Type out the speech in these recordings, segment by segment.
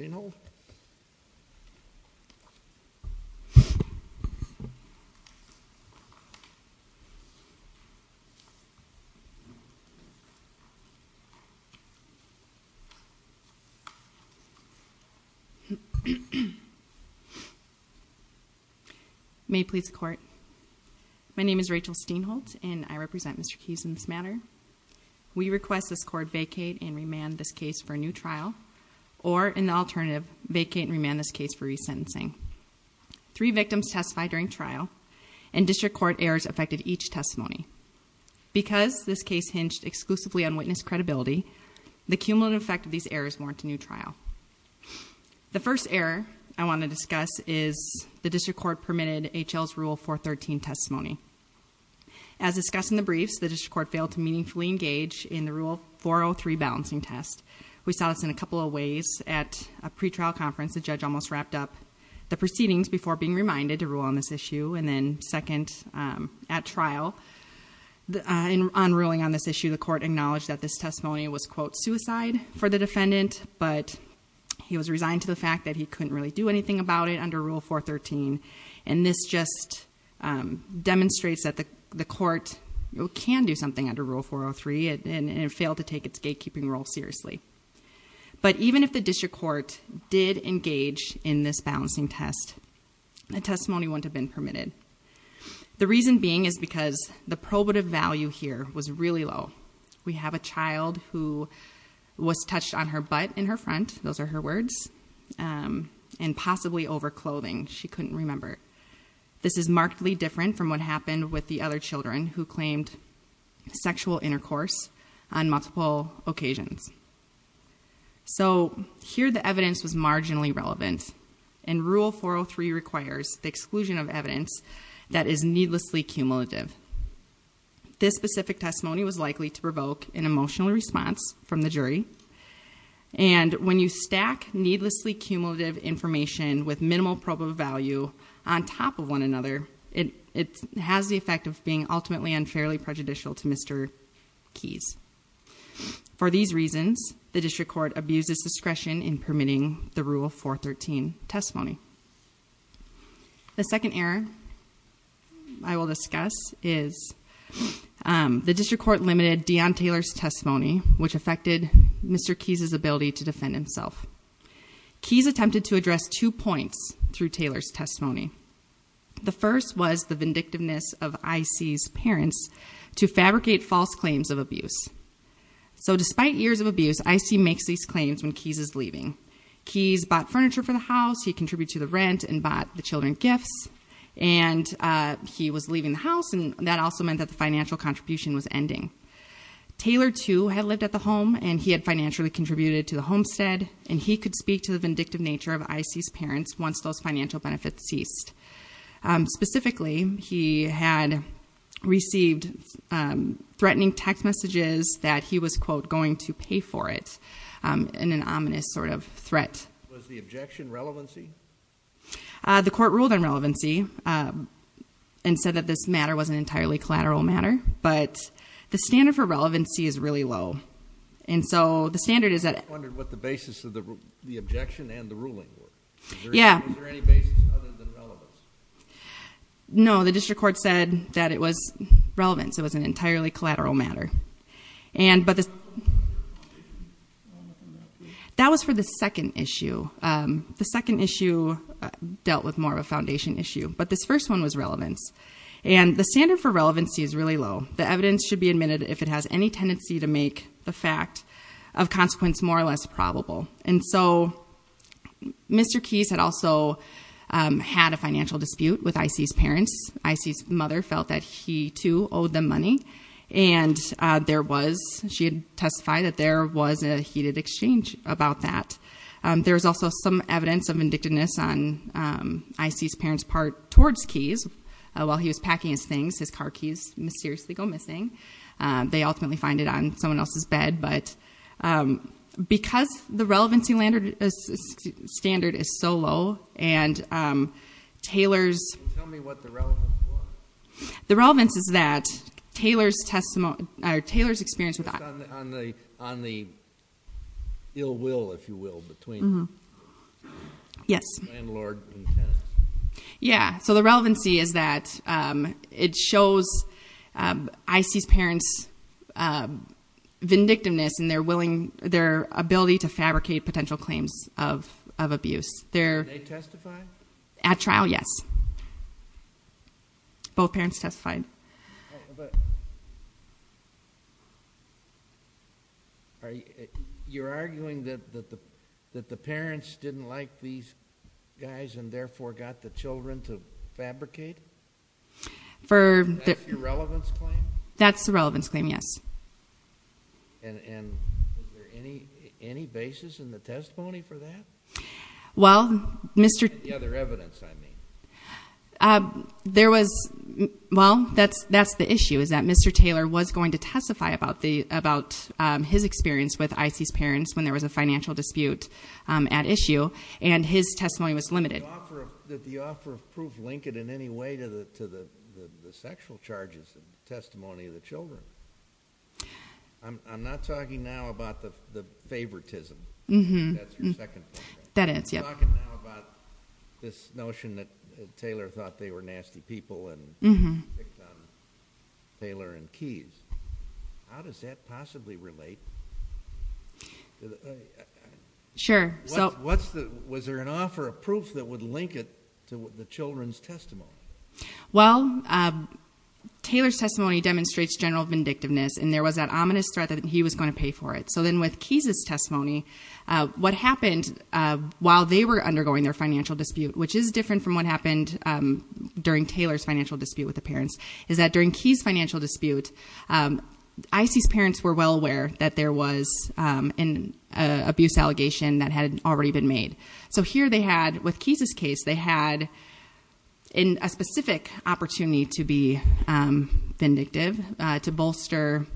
Steenholt. May it please the court. My name is Rachel Steenholt and I represent Mr. Keys in this matter. We request this court vacate and remand this case for a new trial or in the alternative vacate and remand this case for resentencing. Three victims testified during trial and district court errors affected each testimony. Because this case hinged exclusively on witness credibility, the cumulative effect of these errors warrant a new trial. The first error I want to discuss is the district court permitted H.L.'s Rule 413 testimony. As discussed in the briefs, the district court failed to meaningfully engage in the Rule 403 balancing test. We saw this in a couple of ways. At a pre-trial conference, the judge almost wrapped up the proceedings before being reminded to rule on this issue and then second at trial. On ruling on this issue, the court acknowledged that this testimony was quote suicide for the defendant, but he was resigned to the fact that he couldn't really do anything about it under Rule 413. And this just demonstrates that the court can do something under Rule 403 and it failed to take its gatekeeping role seriously. But even if the district court did engage in this balancing test, a testimony wouldn't have been permitted. The reason being is because the probative value here was really low. We have a child who was touched on her butt in her front, those are her words, and possibly over clothing, she couldn't remember. This is markedly different from what happened with the other children who claimed sexual intercourse on multiple occasions. So here the evidence was marginally relevant and Rule 403 requires the exclusion of evidence that is needlessly cumulative. This specific testimony was likely to provoke an emotional response from the jury and when you stack needlessly cumulative information with minimal probative value on top of one another, it has the effect of being ultimately unfairly prejudicial to Mr. Keyes. For these reasons, the district court abuses discretion in permitting the Rule 413 testimony. The second error I will discuss is the district court limited Dion Taylor's testimony, which affected Mr. Keyes' ability to defend himself. Keyes attempted to address two points through Taylor's testimony. The first was the vindictiveness of IC's parents to fabricate false claims of abuse. So despite years of abuse, IC makes these claims when Keyes is leaving. Keyes bought furniture for the house, he contributed to the rent and bought the children gifts, and he was leaving the house and that also meant that the financial contribution was ending. Taylor too had lived at the home and he had financially contributed to the homestead and he could speak to the vindictive nature of IC's parents once those financial benefits ceased. Specifically, he had received threatening text messages that he was, quote, going to pay for it in an ominous sort of threat. Was the objection relevancy? The court ruled on relevancy and said that this matter was an entirely collateral matter, but the standard for relevancy is really low. And so the standard is that... I just wondered what the basis of the objection and the ruling were. Yeah. Was there any basis other than relevance? No, the district court said that it was relevance. It was an entirely collateral matter. And, but the... That was for the second issue. The second issue dealt with more of a foundation issue, but this first one was relevance. And the standard for relevancy is really low. The evidence should be admitted if it has any tendency to make the fact of consequence more or less probable. And so, Mr. Keyes had also had a financial dispute with I.C.'s parents. I.C.'s mother felt that he, too, owed them money. And there was, she had testified that there was a heated exchange about that. There was also some evidence of vindictiveness on I.C.'s parents' part towards Keyes. While he was packing his things, his car keys mysteriously go missing. They ultimately find it on someone else's bed, but because the relevancy standard is so low and Taylor's... Can you tell me what the relevance was? The relevance is that Taylor's testimony, or Taylor's experience with I.C. On the ill will, if you will, between Yes. Landlord and tenant. Yeah, so the relevancy is that it shows I.C.'s parents' vindictiveness in their willing, their ability to fabricate potential claims of abuse. Did they testify? At trial, yes. Both parents testified. You're arguing that the parents didn't like these guys and therefore got the children to fabricate? That's your relevance claim? That's the relevance claim, yes. And is there any basis in the testimony for that? Well, Mr. The other evidence, I mean. There was... Well, that's the issue, is that Mr. Taylor was going to testify about his experience with I.C.'s parents when there was a financial dispute at issue and his testimony was limited. Did the offer of proof link it in any way to the sexual charges in the testimony of the children? I'm not talking now about the favoritism. That's your second point? That is, yes. You're talking now about this notion that Taylor thought they were nasty people and picked on Taylor and Keyes. How does that possibly relate? Sure. Was there an offer of proof that would link it to the children's testimony? Well, Taylor's testimony demonstrates general vindictiveness and there was that ominous threat that he was going to pay for it. So then with Keyes' testimony, what happened while they were undergoing their financial dispute, which is different from what happened during Taylor's financial dispute with the parents, is that during Keyes' financial dispute, I.C.'s parents were well aware that there was an abuse allegation that had already been made. So here they had, with Keyes' case, they had a specific opportunity to be vindictive, to bolster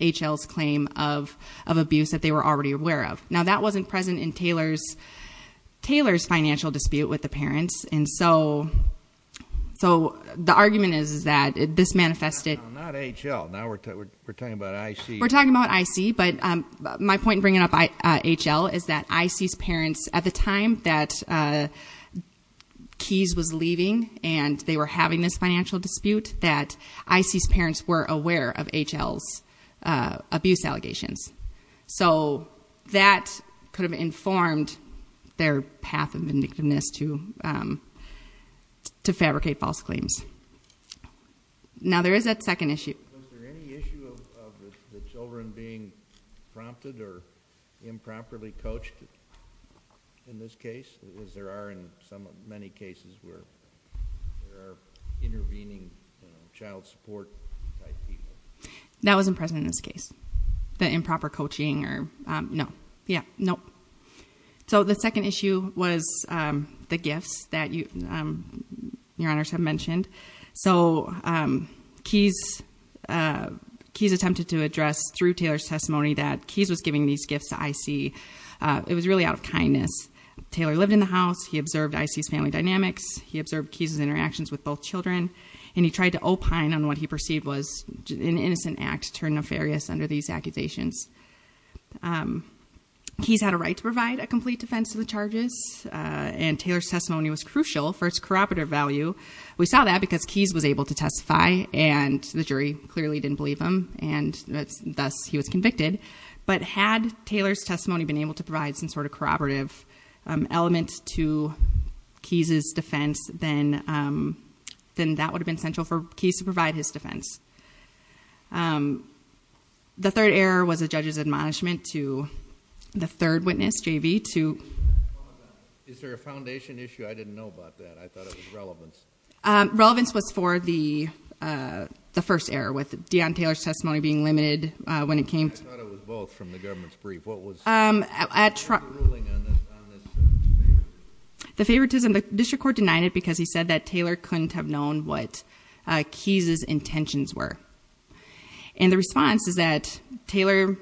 H.L.'s claim of abuse that they were already aware of. Now that wasn't present in Taylor's financial dispute with the parents, and so the argument is that this manifested. Not H.L. Now we're talking about I.C. We're talking about I.C., but my point in bringing up H.L. is that I.C.'s parents at the time that Keyes was leaving and they were having this financial dispute, that I.C.'s parents were aware of H.L.'s abuse allegations. So that could have informed their path of vindictiveness to fabricate false claims. Now there is a second issue. Was there any issue of the children being prompted or improperly coached in this case, as there are in many cases where there are intervening child support type people? That wasn't present in this case, the improper coaching or no. Yeah, no. So the second issue was the gifts that Your Honors have mentioned. So Keyes attempted to address through Taylor's testimony that Keyes was giving these gifts to I.C. It was really out of kindness. Taylor lived in the house. He observed I.C.'s family dynamics. He observed Keyes' interactions with both children, and he tried to opine on what he perceived was an innocent act turned nefarious under these accusations. Keyes had a right to provide a complete defense to the charges, and Taylor's testimony was crucial for its corroborative value. We saw that because Keyes was able to testify, and the jury clearly didn't believe him, and thus he was convicted. But had Taylor's testimony been able to provide some sort of corroborative element to Keyes' defense, then that would have been central for Keyes to provide his defense. The third error was the judge's admonishment to the third witness, J.B., to... Is there a foundation issue? I didn't know about that. I thought it was relevance. Relevance was for the first error, with Deon Taylor's testimony being limited when it came to... I thought it was both from the government's brief. What was the ruling on this favoritism? The favoritism, the district court denied it because he said that Taylor couldn't have known what Keyes' intentions were. And the response is that Taylor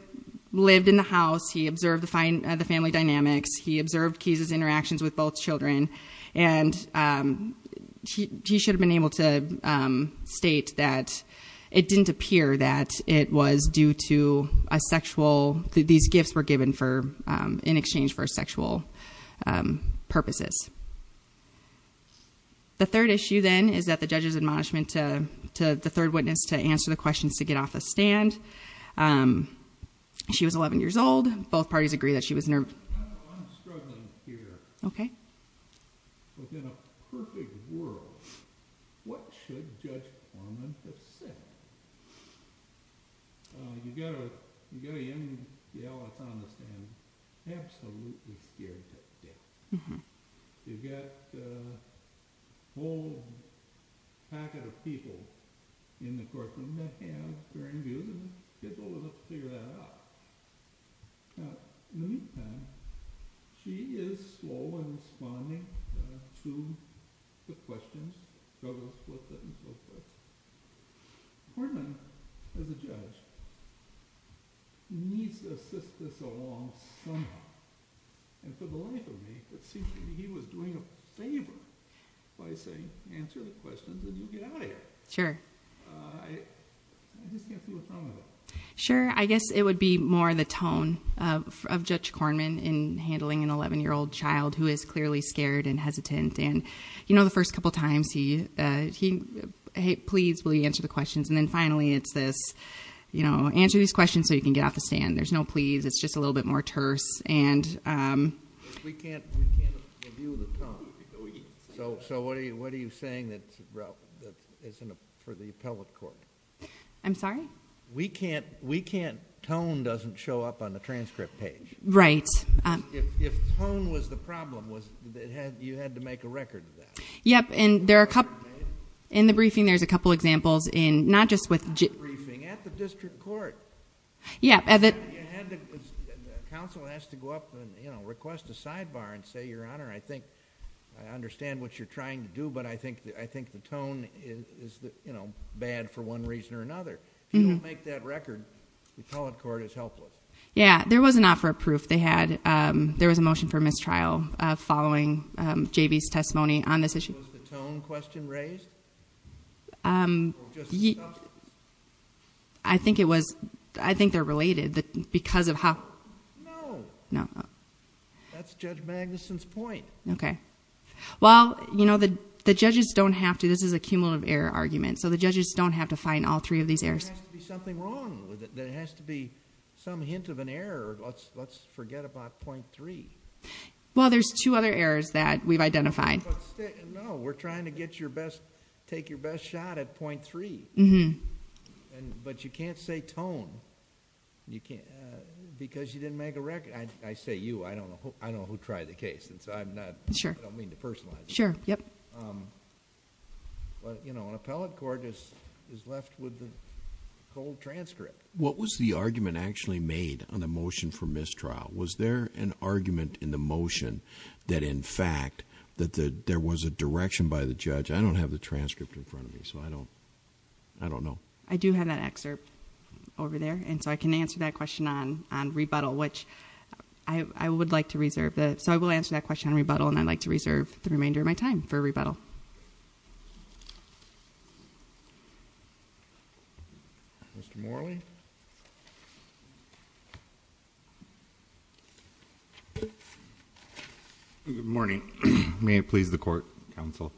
lived in the house. He observed the family dynamics. He observed Keyes' interactions with both children, and he should have been able to state that it didn't appear that it was due to a sexual... that these gifts were given in exchange for sexual purposes. The third issue, then, is that the judge's admonishment to the third witness to answer the questions to get off the stand. She was 11 years old. Both parties agree that she was nervous. I'm struggling here. Okay. Within a perfect world, what should Judge Plummer have said? You've got to end the Alice on the stand absolutely scared to death. You've got a whole packet of people in the courtroom that have very good skills to figure that out. Now, in the meantime, she is slow in responding to the questions, go to the fourth witness, fourth witness. Portman, as a judge, needs to assist this along somehow. And for the life of me, it seems to me he was doing a favor by saying answer the questions and you get out of here. Sure. I just can't see what's wrong with it. Sure. I guess it would be more the tone of Judge Kornman in handling an 11-year-old child who is clearly scared and hesitant. And, you know, the first couple of times he, hey, please will you answer the questions. And then finally it's this, you know, answer these questions so you can get off the stand. There's no please. It's just a little bit more terse. We can't review the tone. So what are you saying, Ralph, for the appellate court? I'm sorry? We can't. Tone doesn't show up on the transcript page. Right. If tone was the problem, you had to make a record of that. Yep. And in the briefing there's a couple examples in not just with... At the briefing, at the district court. Yeah. The counsel has to go up and, you know, request a sidebar and say, Your Honor, I think I understand what you're trying to do, but I think the tone is, you know, bad for one reason or another. If you don't make that record, the appellate court is helpless. Yeah. There was an offer of proof they had. There was a motion for mistrial following J.B.'s testimony on this issue. Was the tone question raised? I think it was... I think they're related because of how... No. No. That's Judge Magnuson's point. Okay. Well, you know, the judges don't have to... This is a cumulative error argument. So the judges don't have to find all three of these errors. There has to be something wrong with it. There has to be some hint of an error. Let's forget about .3. Well, there's two other errors that we've identified. No. We're trying to get your best... Take your best shot at .3. Mm-hmm. But you can't say tone because you didn't make a record. I say you. I don't know who tried the case. I'm not... Sure. I don't mean to personalize it. Sure. Yep. An appellate court is left with the cold transcript. What was the argument actually made on the motion for mistrial? Was there an argument in the motion that, in fact, that there was a direction by the judge? I don't have the transcript in front of me, so I don't know. I do have that excerpt over there, and so I can answer that question on rebuttal, which I would like to reserve the... So I will answer that question on rebuttal, and I'd like to reserve the remainder of my time for rebuttal. Mr. Morley? Good morning. May it please the court, counsel.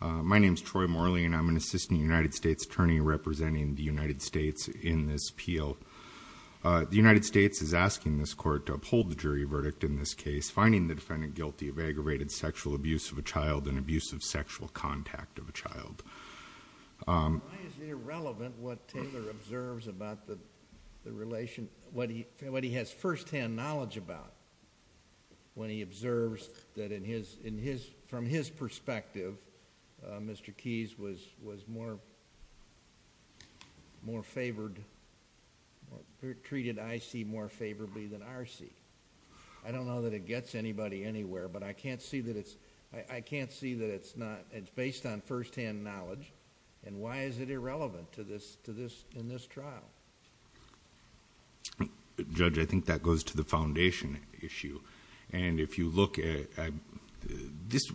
My name is Troy Morley, and I'm an assistant United States attorney representing the United States in this appeal. The United States is asking this court to uphold the jury verdict in this case, finding the defendant guilty of aggravated sexual abuse of a child and abuse of sexual contact of a child. Why is it irrelevant what Taylor observes about the relation... what he has firsthand knowledge about when he observes that, from his perspective, Mr. Keys was more favored... treated, I see, more favorably than I see? I don't know that it gets anybody anywhere, but I can't see that it's... I can't see that it's not... it's based on firsthand knowledge, and why is it irrelevant to this... in this trial? Judge, I think that goes to the foundation issue, and if you look at...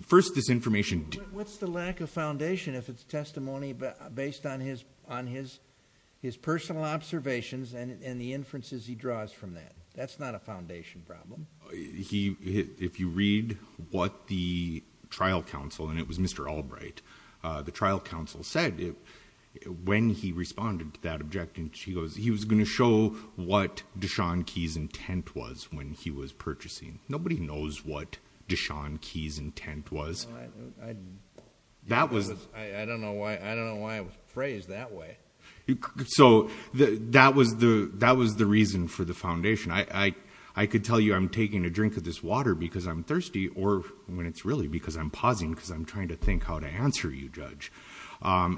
First, this information... What's the lack of foundation if it's testimony based on his personal observations and the inferences he draws from that? That's not a foundation problem. He... if you read what the trial counsel, and it was Mr. Albright, the trial counsel said, when he responded to that objection, he goes, he was going to show what Deshawn Keys' intent was when he was purchasing. Nobody knows what Deshawn Keys' intent was. That was... I don't know why it was phrased that way. So, that was the reason for the foundation. I could tell you I'm taking a drink of this water because I'm thirsty, or when it's really because I'm pausing,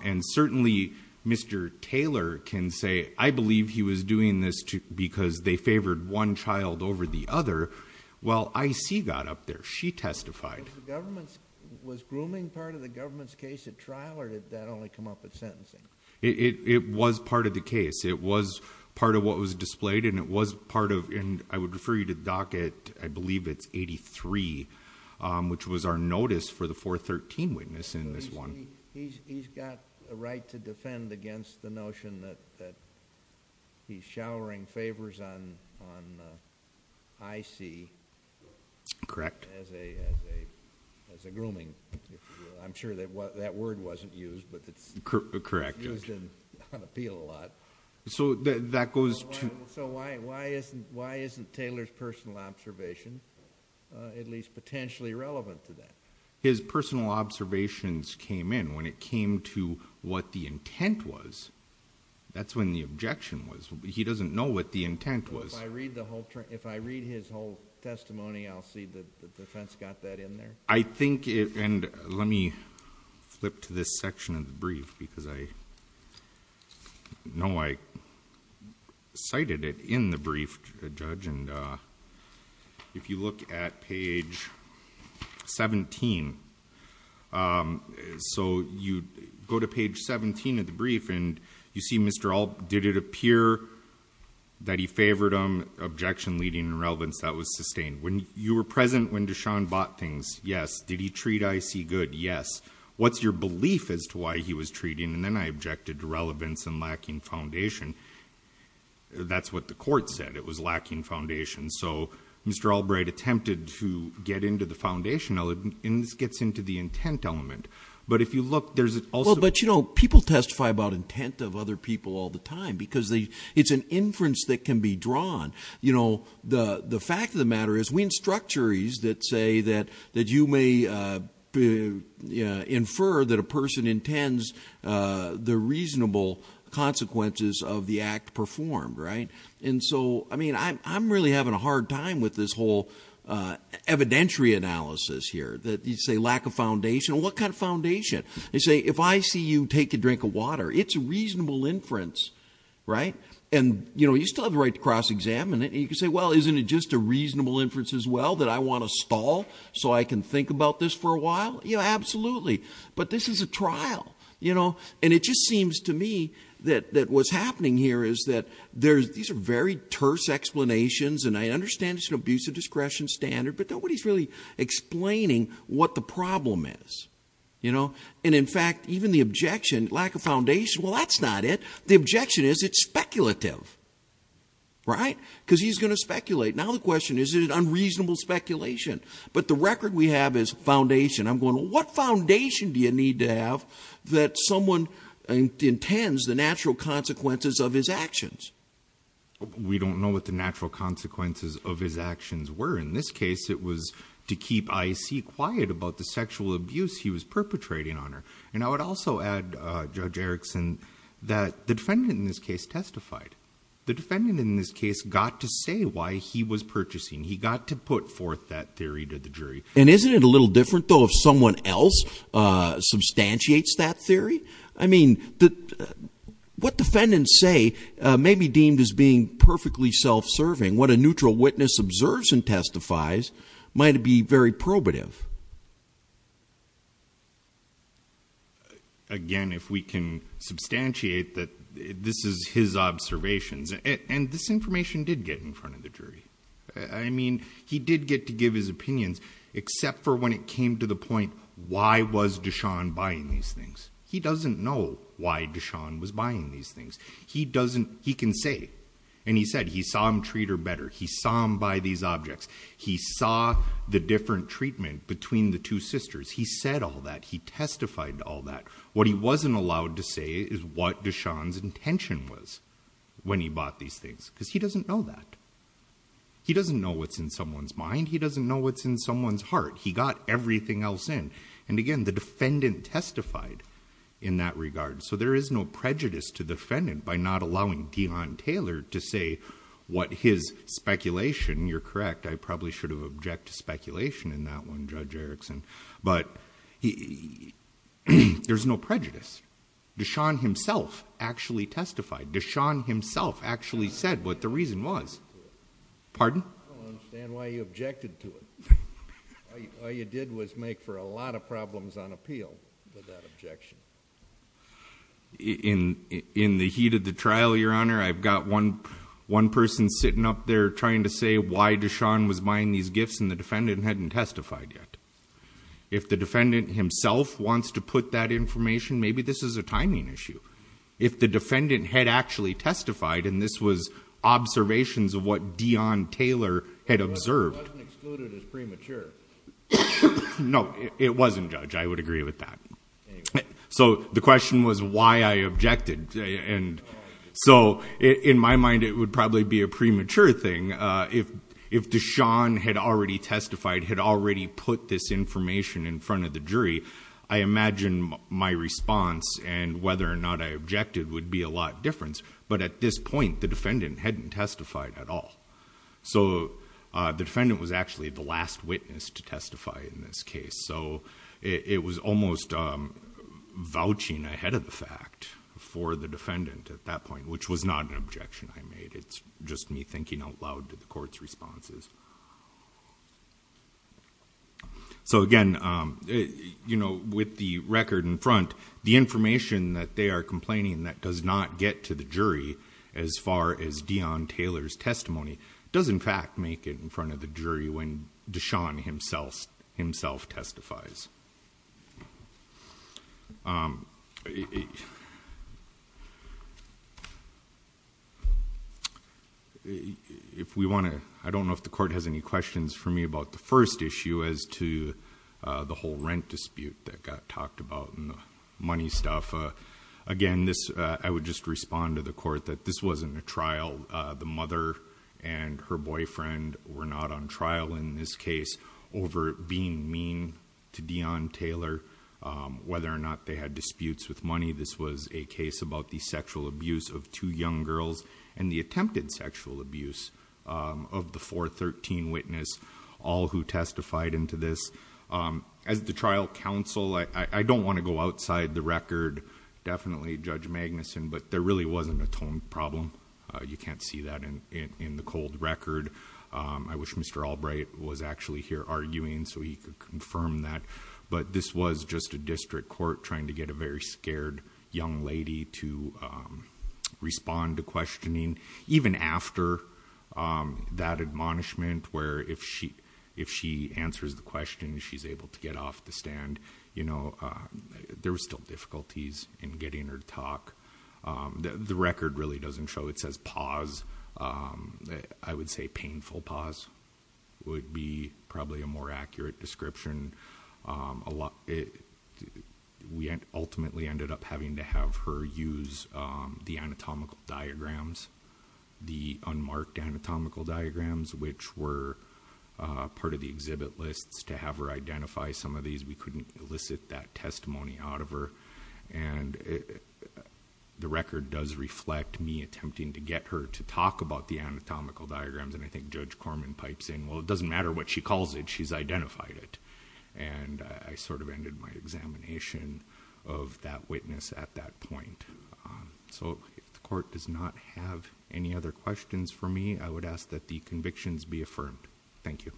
And certainly, Mr. Taylor can say, I believe he was doing this because they favored one child over the other. Well, I see that up there. She testified. Was grooming part of the government's case at trial, or did that only come up at sentencing? It was part of the case. It was part of what was displayed, and it was part of... I would refer you to the docket, I believe it's 83, which was our notice for the 413 witness in this one. He's got a right to defend against the notion that he's showering favors on IC... Correct.... as a grooming. I'm sure that word wasn't used, but it's... Correct.... used on appeal a lot. So, that goes to... So, why isn't Taylor's personal observation at least potentially relevant to that? His personal observations came in. When it came to what the intent was, that's when the objection was. He doesn't know what the intent was. If I read his whole testimony, I'll see that the defense got that in there? I think it... and let me flip to this section of the brief, because I know I cited it in the brief, Judge. If you look at page 17... So, you go to page 17 of the brief, and you see Mr. Alp... Did it appear that he favored him? Objection leading to irrelevance. That was sustained. You were present when Deshawn bought things. Yes. Did he treat IC good? Yes. What's your belief as to why he was treating? And then I objected to relevance and lacking foundation. That's what the court said. It was lacking foundation. So, Mr. Albright attempted to get into the foundation element, and this gets into the intent element. But, if you look, there's also... But, you know, people testify about intent of other people all the time, because it's an inference that can be drawn. You know, the fact of the matter is, we instruct juries that say that you may infer that a person intends the reasonable consequences of the act performed, right? And so, I mean, I'm really having a hard time with this whole evidentiary analysis here, that you say lack of foundation. What kind of foundation? They say, if I see you take a drink of water, it's a reasonable inference, right? And, you know, you still have the right to cross-examine it. And you can say, well, isn't it just a reasonable inference as well, that I want to stall so I can think about this for a while? Yeah, absolutely. But, this is a trial, you know? And it just seems to me that what's happening here is that these are very terse explanations. And I understand it's an abuse of discretion standard, but nobody's really explaining what the problem is, you know? And, in fact, even the objection, lack of foundation, well, that's not it. The objection is it's speculative, right? Because he's going to speculate. Now the question is, is it unreasonable speculation? But the record we have is foundation. I'm going, what foundation do you need to have that someone intends the natural consequences of his actions? We don't know what the natural consequences of his actions were. In this case, it was to keep I.C. quiet about the sexual abuse he was perpetrating on her. And I would also add, Judge Erickson, that the defendant in this case testified. The defendant in this case got to say why he was purchasing. He got to put forth that theory to the jury. And isn't it a little different, though, if someone else substantiates that theory? I mean, what defendants say may be deemed as being perfectly self-serving. What a neutral witness observes and testifies might be very probative. Again, if we can substantiate that this is his observations. And this information did get in front of the jury. I mean, he did get to give his opinions, except for when it came to the point, why was Deshaun buying these things? He doesn't know why Deshaun was buying these things. He doesn't, he can say, and he said he saw him treat her better. He saw him buy these objects. He saw the different treatment between the two sisters. He said all that. He testified to all that. What he wasn't allowed to say is what Deshaun's intention was when he bought these things. Because he doesn't know that. He doesn't know what's in someone's mind. He doesn't know what's in someone's heart. He got everything else in. And, again, the defendant testified in that regard. So there is no prejudice to the defendant by not allowing Dion Taylor to say what his speculation, you're correct, I probably should have objected to speculation in that one, Judge Erickson. But there's no prejudice. Deshaun himself actually testified. Deshaun himself actually said what the reason was. Pardon? I don't understand why you objected to it. All you did was make for a lot of problems on appeal with that objection. In the heat of the trial, Your Honor, I've got one person sitting up there trying to say why Deshaun was buying these gifts, and the defendant hadn't testified yet. If the defendant himself wants to put that information, maybe this is a timing issue. If the defendant had actually testified, and this was observations of what Dion Taylor had observed. It wasn't excluded as premature. No, it wasn't, Judge. I would agree with that. So the question was why I objected. So in my mind, it would probably be a premature thing. If Deshaun had already testified, had already put this information in front of the jury, I imagine my response and whether or not I objected would be a lot different. But at this point, the defendant hadn't testified at all. So the defendant was actually the last witness to testify in this case. So it was almost vouching ahead of the fact for the defendant at that point, which was not an objection I made. It's just me thinking out loud to the court's responses. So again, with the record in front, the information that they are complaining that does not get to the jury as far as Dion Taylor's testimony does in fact make it in front of the jury when Deshaun himself testifies. I don't know if the court has any questions for me about the first issue as to the whole rent dispute that got talked about and the money stuff. Again, I would just respond to the court that this wasn't a trial. The mother and her boyfriend were not on trial in this case over being mean to Dion Taylor. Whether or not they had disputes with money, this was a case about the sexual abuse of two young girls and the attempted sexual abuse of the 413 witness, all who testified into this. As the trial counsel, I don't want to go outside the record. Definitely Judge Magnuson, but there really wasn't a tone problem. You can't see that in the cold record. I wish Mr. Albright was actually here arguing so he could confirm that. But this was just a district court trying to get a very scared young lady to respond to questioning. Even after that admonishment where if she answers the question, she's able to get off the stand. There were still difficulties in getting her to talk. The record really doesn't show. It says pause. I would say painful pause would be probably a more accurate description. We ultimately ended up having to have her use the anatomical diagrams, the unmarked anatomical diagrams which were part of the exhibit lists to have her identify some of these. We couldn't elicit that testimony out of her. The record does reflect me attempting to get her to talk about the anatomical diagrams. I think Judge Corman pipes in, well, it doesn't matter what she calls it. She's identified it. I sort of ended my examination of that witness at that point. If the court does not have any other questions for me, I would ask that the convictions be affirmed. Thank you.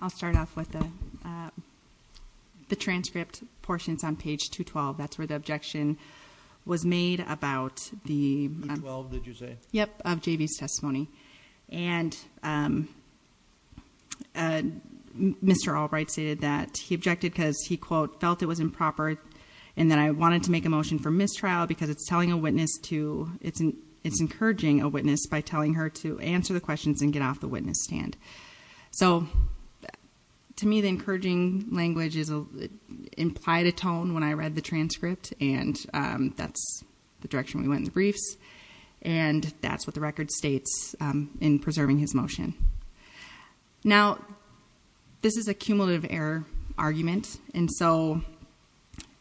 I'll start off with the transcript. The transcript portion is on page 212. That's where the objection was made about the JV's testimony. Mr. Albright stated that he objected because he, quote, felt it was improper and that I wanted to make a motion for mistrial because it's encouraging a witness by telling her to answer the questions and get off the witness stand. So to me, the encouraging language implied a tone when I read the transcript and that's the direction we went in the briefs. And that's what the record states in preserving his motion. Now, this is a cumulative error argument. And so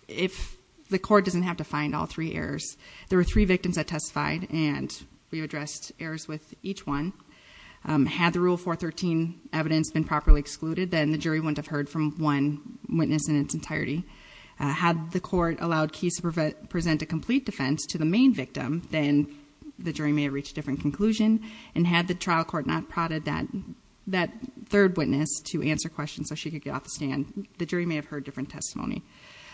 if the court doesn't have to find all three errors, there were three victims that testified and we addressed errors with each one. Had the Rule 413 evidence been properly excluded, then the jury wouldn't have heard from one witness in its entirety. Had the court allowed Keyes to present a complete defense to the main victim, then the jury may have reached a different conclusion. And had the trial court not prodded that third witness to answer questions so she could get off the stand, the jury may have heard different testimony.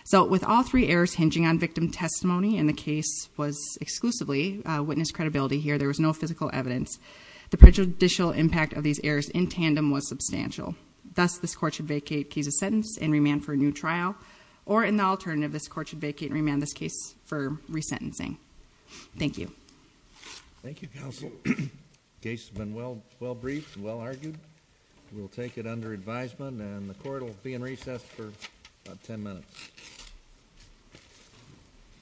So with all three errors hinging on victim testimony, and the case was exclusively witness credibility here, there was no physical evidence, the prejudicial impact of these errors in tandem was substantial. Thus, this court should vacate Keyes' sentence and remand for a new trial, or in the alternative, this court should vacate and remand this case for resentencing. Thank you. Thank you, Counsel. The case has been well briefed and well argued. We'll take it under advisement and the court will be in recess for about 10 minutes.